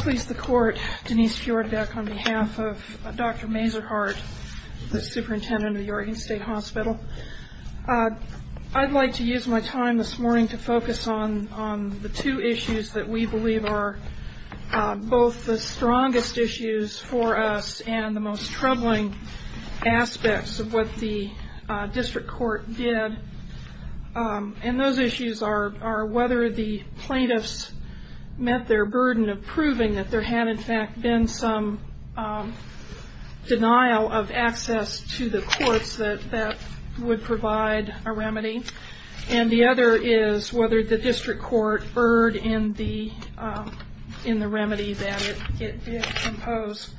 Please the court, Denise Fjordek on behalf of Dr. Mazur-Hart, the superintendent of the Oregon State Hospital. I'd like to use my time this morning to focus on the two issues that we believe are both the strongest issues for us and the most troubling aspects of what the district court did and those two are proving that there had in fact been some denial of access to the courts that would provide a remedy and the other is whether the district court erred in the remedy that it imposed.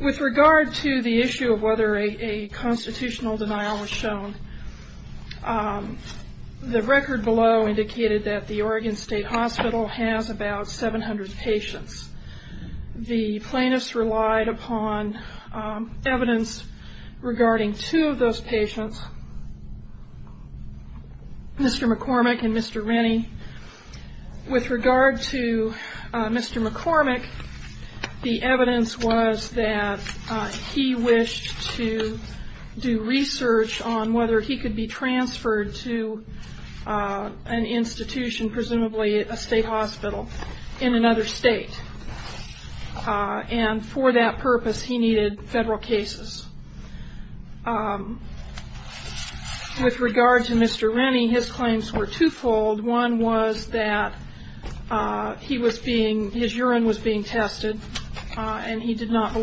With regard to the issue of whether a constitutional denial was shown, the record below indicated that the Oregon State Hospital has about 700 patients. The plaintiffs relied upon evidence regarding two of those patients, Mr. McCormick and Mr. Rennie. With regard to Mr. McCormick, the evidence was that he wished to do research on whether he could be transferred to an institution, presumably a state hospital, in another state and for that purpose he needed federal cases. With regard to Mr. Rennie, his claims were two-fold. One was that his urine was being tested and he did not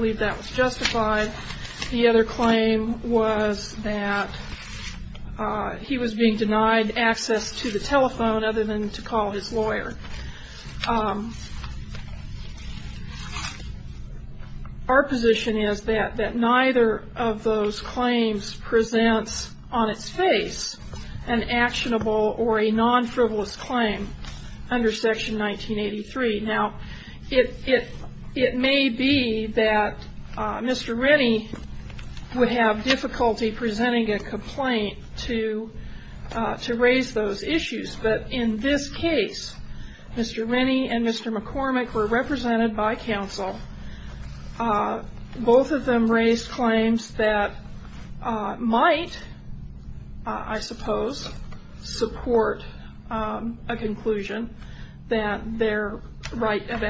he was being denied access to the telephone other than to call his lawyer. Our position is that neither of those claims presents on its face an actionable or a non-frivolous claim under Section 1983. Now, it may be that Mr. Rennie would have difficulty presenting a complaint to raise those issues, but in this case, Mr. Rennie and Mr. McCormick were represented by counsel. Both of them raised claims that might, I suppose, support a conclusion that their right of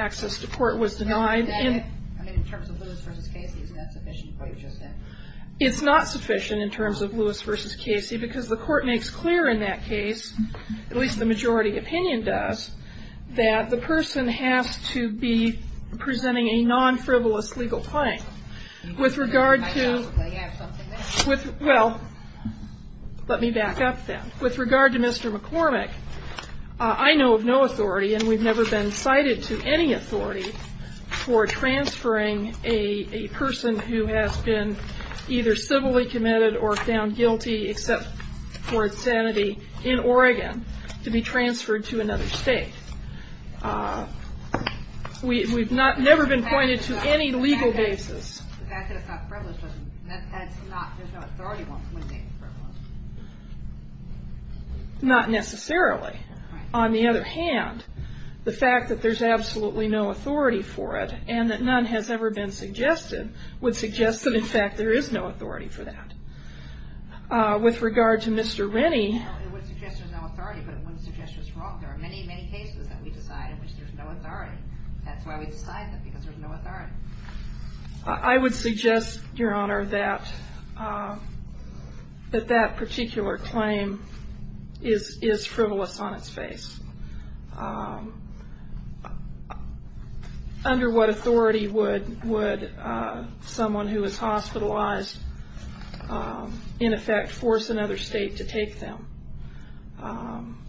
It's not sufficient in terms of Lewis v. Casey because the court makes clear in that case, at least the majority opinion does, that the person has to be presenting a non-frivolous legal claim. With regard to, well, let me back up then. With regard to Mr. McCormick, I know of no authority and we've never been cited to any been either civilly committed or found guilty except for insanity in Oregon to be transferred to another state. We've never been pointed to any legal basis. The fact that it's not frivolous doesn't, that's not, there's no authority once it's made frivolous. Not necessarily. On the other hand, the fact that there's absolutely no authority for it and that none has ever been suggested would suggest that, in fact, there is no authority for that. With regard to Mr. Rennie, I would suggest, Your Honor, that that particular claim is frivolous on what authority would someone who is hospitalized, in effect, force another state to take them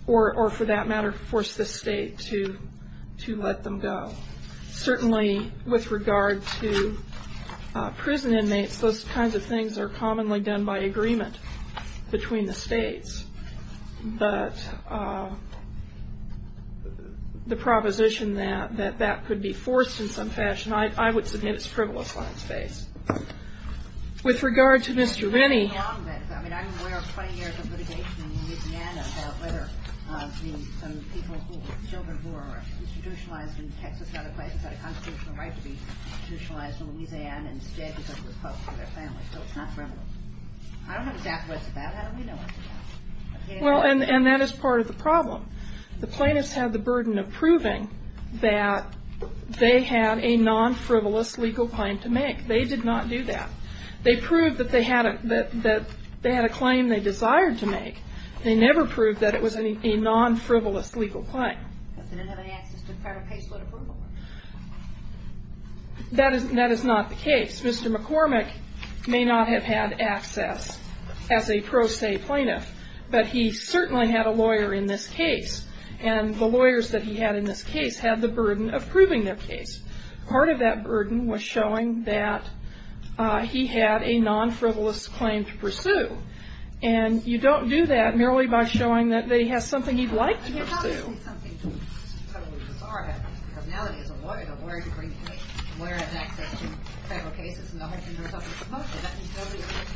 or, for that matter, force this state to let them go. Certainly, with regard to prison inmates, those kinds of things are commonly done by agreement between the states, but the proposition that that could be forced in some fashion, I would submit it's frivolous on its face. With regard to Mr. Well, and that is part of the problem. The plaintiffs had the burden of proving that they had a non-frivolous legal claim to make. They did not do that. They proved that they had a claim they desired to make. They never proved that it was a non-frivolous legal claim. That is not the case. Mr. McCormick may not have had access as a pro se plaintiff, but he certainly had a lawyer in this case, and the lawyers that he had in this case had the burden of proving their case. Part of that burden was showing that he had a non-frivolous claim to pursue, and you don't do that merely by showing that he has something he'd like to pursue. But how does something totally bizarre happen? Because now that he's a lawyer, the lawyer can bring the case. The lawyer has access to federal cases, and the whole thing goes up in smoke, and that means nobody else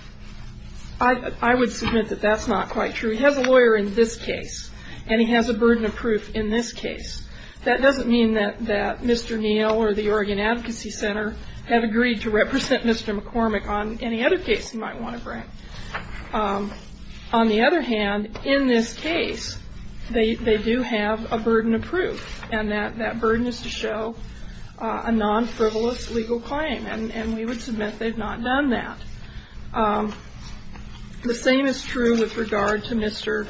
is political. I would submit that that's not quite true. He has a lawyer in this case, and he has a burden of proof in this case. That doesn't mean that Mr. Neal or the Oregon Advocacy Center have agreed to represent Mr. McCormick on any other case he might want to bring. On the other hand, in this case, they do have a burden of proof, and that burden is to show a non-frivolous legal claim, and we would submit they've not done that. The same is true with regard to Mr.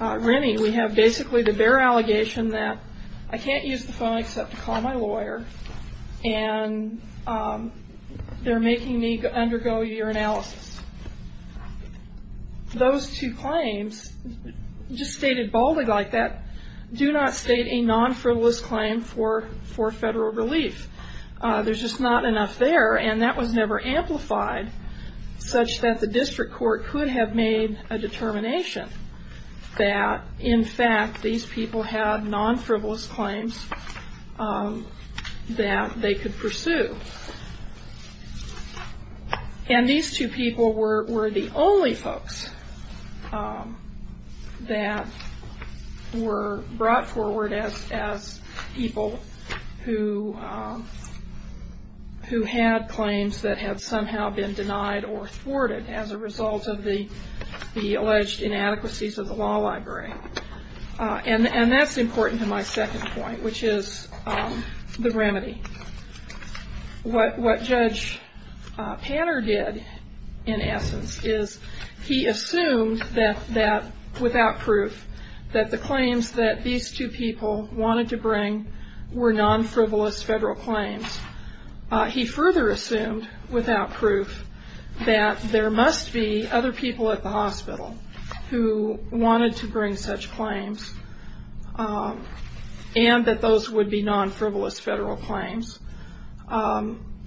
Rennie. We have basically the bare allegation that I can't use the phone except to call my lawyer, and they're making me undergo urinalysis. Those two claims, just stated boldly like that, do not state a non-frivolous claim for federal relief. There's just not enough there, and that was never amplified such that the district court could have made a determination that, in fact, these people had non-frivolous claims that they could pursue. And these two people were the only folks that were brought forward as people who had claims that had somehow been denied or thwarted as a result of the alleged inadequacies of the law library. And that's important to my second point, which is the remedy. What Judge Panner did, in essence, is he assumed that, without proof, that the claims that these two people wanted to bring were non-frivolous federal claims. He further assumed, without proof, that there must be other people at the hospital who wanted to bring such claims, and that those would be non-frivolous federal claims.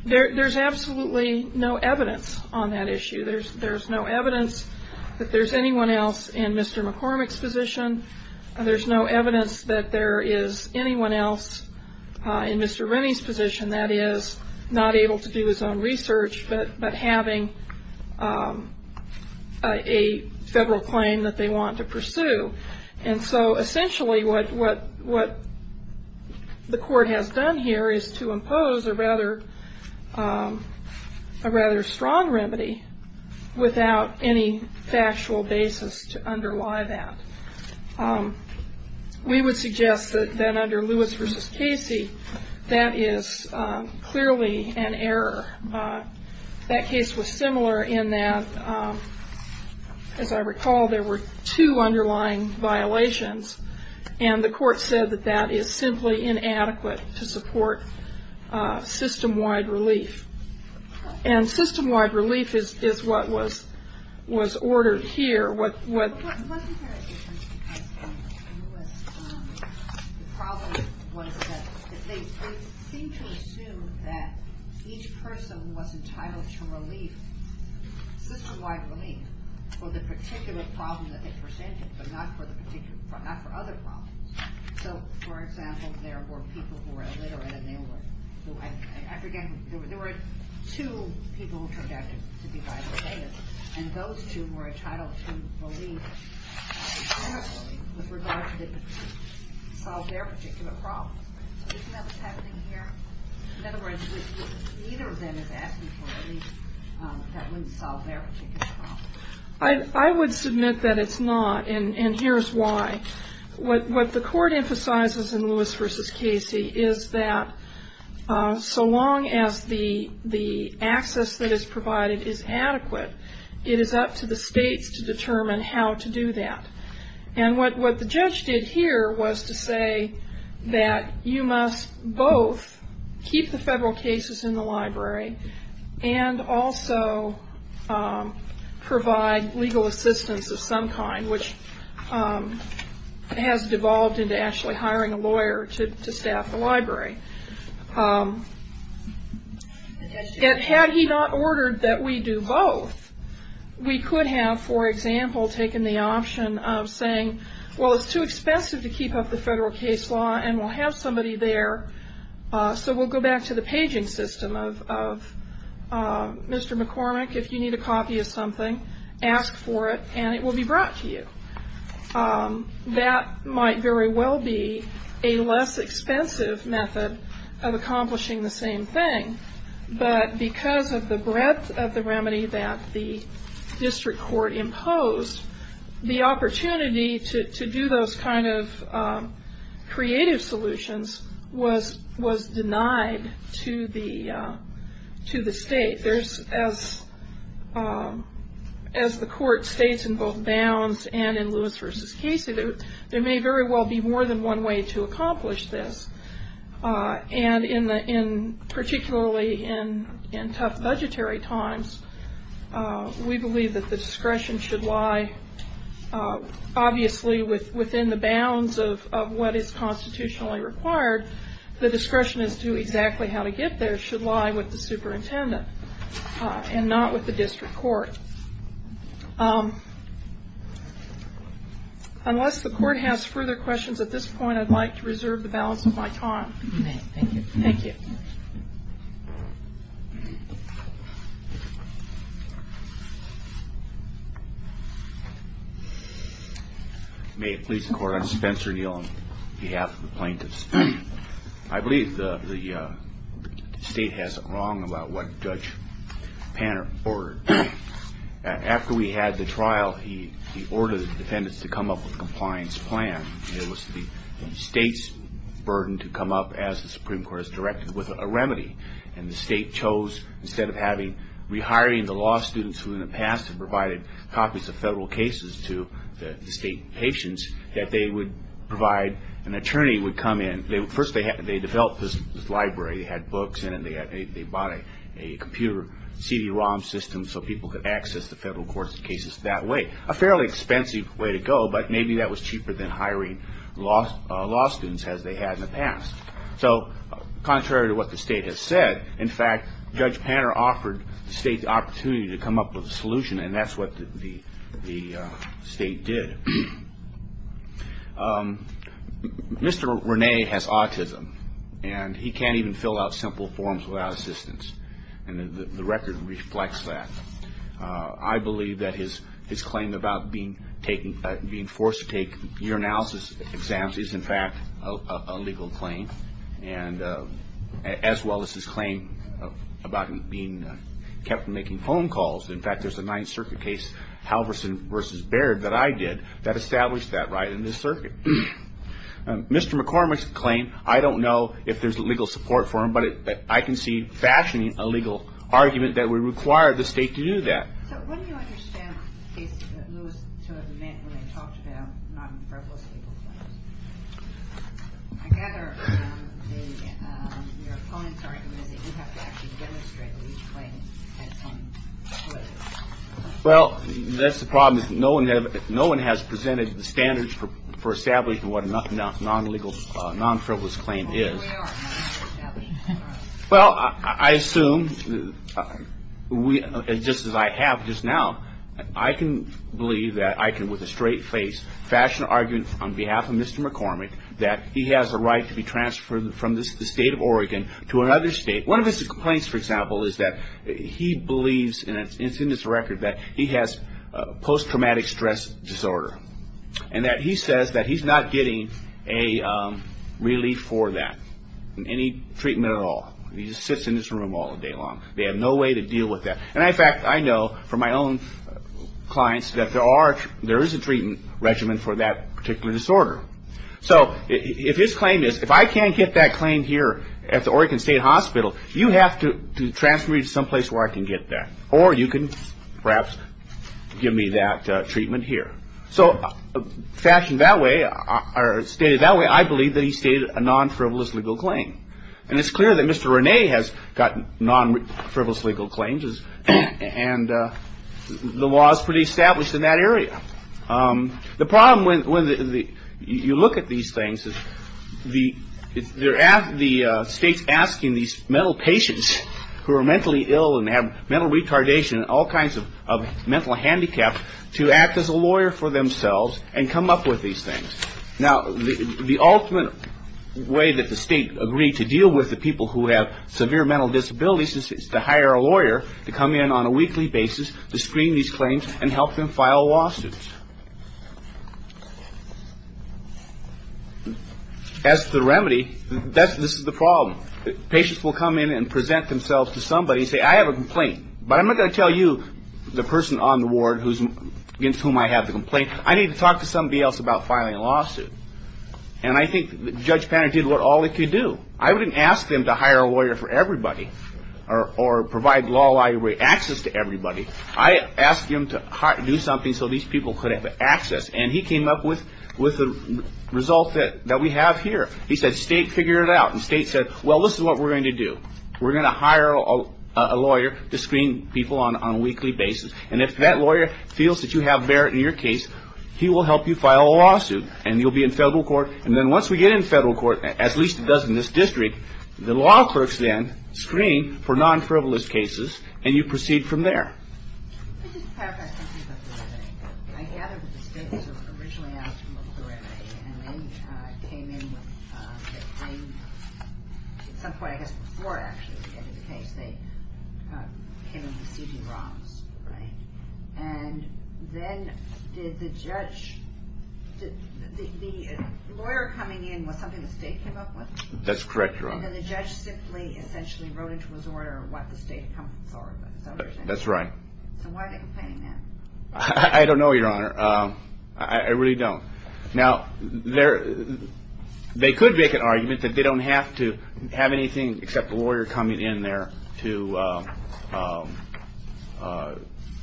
There's absolutely no evidence on that issue. There's no evidence that there's anyone else in Mr. McCormick's position. There's no evidence that there is anyone else in Mr. Rennie's position that is not able to do his own research, but having a federal claim that they want to pursue. And so, essentially, what the court has done here is to impose a rather strong remedy without any factual basis to underlie that. We would suggest that, under Lewis v. Casey, that is clearly an error. That case was similar in that, as I recall, there were two underlying violations, and the court said that that is simply inadequate to support system-wide relief. And system- wide relief, the problem was that they seemed to assume that each person was entitled to relief, system-wide relief, for the particular problem that they presented, but not for other problems. So, for example, there were people who were illiterate, and they were, I forget, there were two people who turned out to be able to solve their particular problem. In other words, neither of them is asking for relief that wouldn't solve their particular problem. I would submit that it's not, and here's why. What the court emphasizes in Lewis v. Casey is that so long as the access that is provided is adequate, it is up to the states to determine how to do that. And what the judge did here was to say that you must both keep the federal cases in the library and also provide legal assistance of some kind, which has devolved into actually hiring a lawyer to have, for example, taken the option of saying, well, it's too expensive to keep up the federal case law, and we'll have somebody there, so we'll go back to the paging system of Mr. McCormick, if you need a copy of something, ask for it, and it will be brought to you. That might very well be a less expensive method of accomplishing the same thing, but because of the breadth of the remedy that the district court imposed, the opportunity to do those kind of creative solutions was denied to the state. As the court states in both Bounds and in Lewis v. Casey, there may very well be more than one way to accomplish this, and particularly in tough budgetary times, we believe that the discretion should lie, obviously, within the bounds of what is constitutionally required. The discretion as to exactly how to get there should lie with the superintendent and not with the district court. Unless the court has further questions at this point, I'd like to reserve the balance of my time. Thank you. May it please the Court, I'm Spencer Neal on behalf of the plaintiffs. I believe the State has it wrong about what Judge Panner ordered. After we had the trial, he ordered the defendants to come up with a compliance plan. It was the State's burden to come up, as the Supreme Court has directed, with a remedy, and the State chose, instead of rehiring the law students who in the past have provided copies of federal cases to the State patients, that they would provide an attorney would come in. First, they developed this library. They had books in it. They bought a computer CD-ROM system so people could access the state. A fairly expensive way to go, but maybe that was cheaper than hiring law students as they had in the past. So, contrary to what the State has said, in fact, Judge Panner offered the State the opportunity to come up with a solution, and that's what the State did. Mr. Rene has autism, and he can't even fill out simple forms without assistance, and the record reflects that. I believe that his claim about being forced to take urinalysis exams is, in fact, a legal claim, as well as his claim about him being kept from making phone calls. In fact, there's a Ninth Circuit case, Halverson v. Baird, that I did that established that right in this circuit. Mr. McCormick's claim, I don't know if there's legal support for him, but I can see fashioning a legal argument that would require the State to do that. I gather your opponent's argument is that you have to actually demonstrate that each claim has some validity. Well, that's the problem. No one has presented the standards for establishing what a non-frivolous claim is. Well, I assume, just as I have just now, I can believe that I can, with a straight face, fashion an argument on behalf of Mr. McCormick that he has a right to be transferred from the State of Oregon to another State. One of his complaints, for example, is that he believes, and it's in his record, that he has post-traumatic stress disorder, and that he says that he's not getting a relief for that, any treatment at all. He just sits in his room all day long. They have no way to deal with that. In fact, I know from my own clients that there is a treatment regimen for that particular disorder. If his claim is, if I can't get that claim here at the Oregon State Hospital, you have to transfer me to someplace where I can get that, or you can perhaps give me that treatment here. So fashioned that way, or stated that way, I believe that he stated a non-frivolous legal claim. And it's clear that Mr. René has gotten non-frivolous legal claims, and the law is pretty established in that area. The problem when you look at these things is the State's asking these mental patients who are mentally ill and have mental retardation and all kinds of mental handicaps to act as a lawyer for themselves and come up with these things. Now, the ultimate way that the State agreed to deal with the people who have severe mental disabilities is to hire a lawyer to come in on a weekly basis to screen these claims and help them file lawsuits. As to the remedy, this is the problem. Patients will come in and present themselves to somebody and say, I have a complaint, but I'm not going to tell you the person on the ward against whom I have the complaint. I need to talk to somebody else about filing a lawsuit. And I think Judge Panner did what all he could do. I didn't ask him to hire a lawyer for everybody, or provide law-abiding access to everybody. I asked him to do something so these people could have access. And he came up with the result that we have here. He said, State, figure it out. And State said, well, this is what we're going to do. We're going to hire a lawyer to screen people on a weekly basis. And if that lawyer feels that you have Barrett in your case, he will help you file a lawsuit. And you'll be in federal court. And then once we get in federal court, at least it does in this district, the law clerks then screen for non-frivolous cases, and you proceed from there. I just have a question about the remedy. I gathered that the State was originally asking for a remedy. And then came in with, at some point, I guess before actually getting the case, they came in with C.P. Ross. And then did the judge, did the lawyer coming in, was something the State came up with? That's correct, Your Honor. And then the judge simply essentially wrote into his order what the State had come forward with. That's right. I don't know, Your Honor. I really don't. Now, they could make an argument that they don't have to have anything except a lawyer coming in there to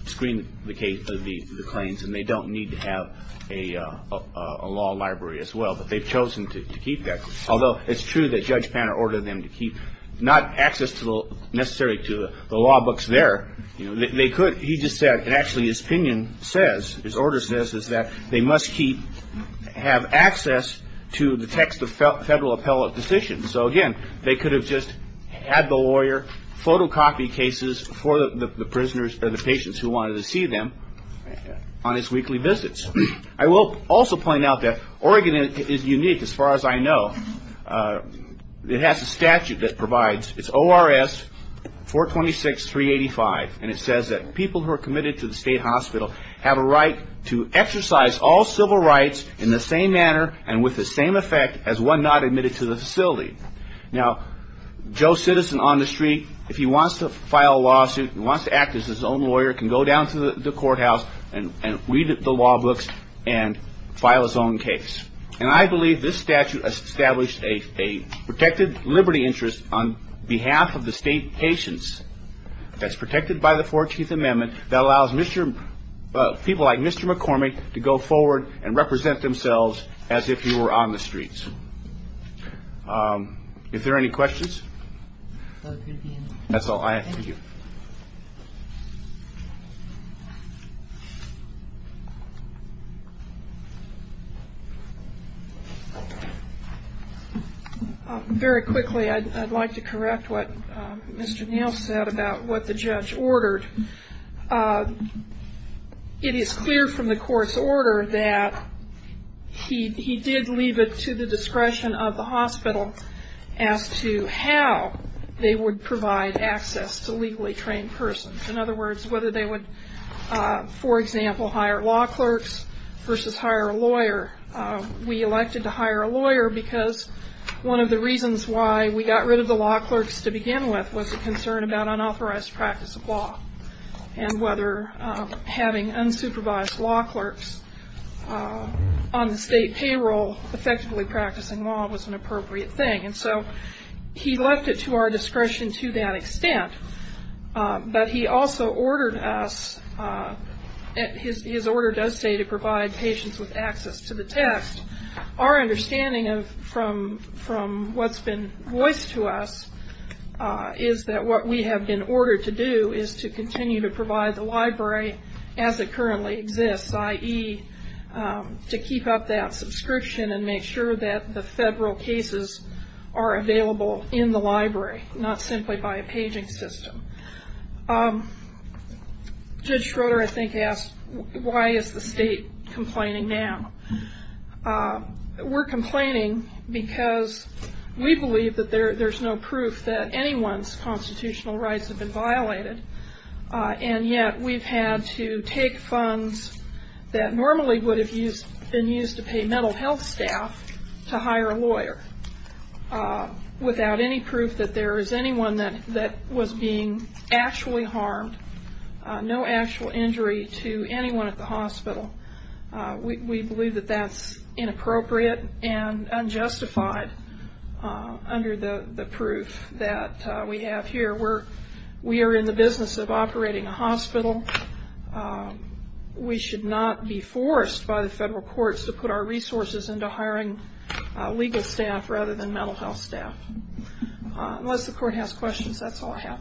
screen the claims, and they don't need to have a law library as well. But they've chosen to keep that. He just said, and actually his opinion says, his order says, is that they must have access to the text of federal appellate decisions. So again, they could have just had the lawyer photocopy cases for the prisoners or the patients who wanted to see them on his weekly visits. I will also point out that Oregon is unique, as far as I know. It has a statute that provides, it's ORS 426-385, and it says that people who are committed to the State hospital have a right to exercise all civil rights in the same manner and with the same effect as one not admitted to the facility. Now, Joe Citizen on the street, if he wants to file a lawsuit, if he wants to act as his own lawyer, can go down to the courthouse and read the law books and file his own case. And I believe this statute has established a protected liberty interest on behalf of the State patients that's protected by the 14th Amendment that allows people like Mr. McCormick to go forward and represent themselves as if you were on the streets. Is there any questions? Very quickly, I'd like to correct what Mr. Neal said about what the judge ordered. It is clear from the court's order that he did leave it to the discretion of the hospital as to how they would provide access to legally trained persons. In other words, whether they would, for example, hire law clerks versus hire a lawyer. We elected to hire a lawyer because one of the reasons why we got rid of the law clerks to begin with was a concern about unauthorized practice of law and whether having unsupervised law clerks on the State payroll effectively practicing law was an appropriate thing. And so he left it to our discretion to that extent. But he also ordered us, his order does say to provide patients with access to the test. Our understanding from what's been voiced to us is that what we have been ordered to do is to continue to provide the library as it currently exists, i.e. to keep up that subscription and make sure that the federal cases are covered. And that those cases are available in the library, not simply by a paging system. Judge Schroeder, I think, asked, why is the State complaining now? We're complaining because we believe that there's no proof that anyone's constitutional rights have been violated. And yet we've had to take funds that normally would have been used to pay mental health staff to hire a lawyer. Without any proof that there is anyone that was being actually harmed, no actual injury to anyone at the hospital. We believe that that's inappropriate and unjustified under the proof that we have here. We are in the business of operating a hospital. We should not be forced by the federal courts to put our resources into hiring legal staff rather than mental health staff. Unless the court has questions, that's all I have.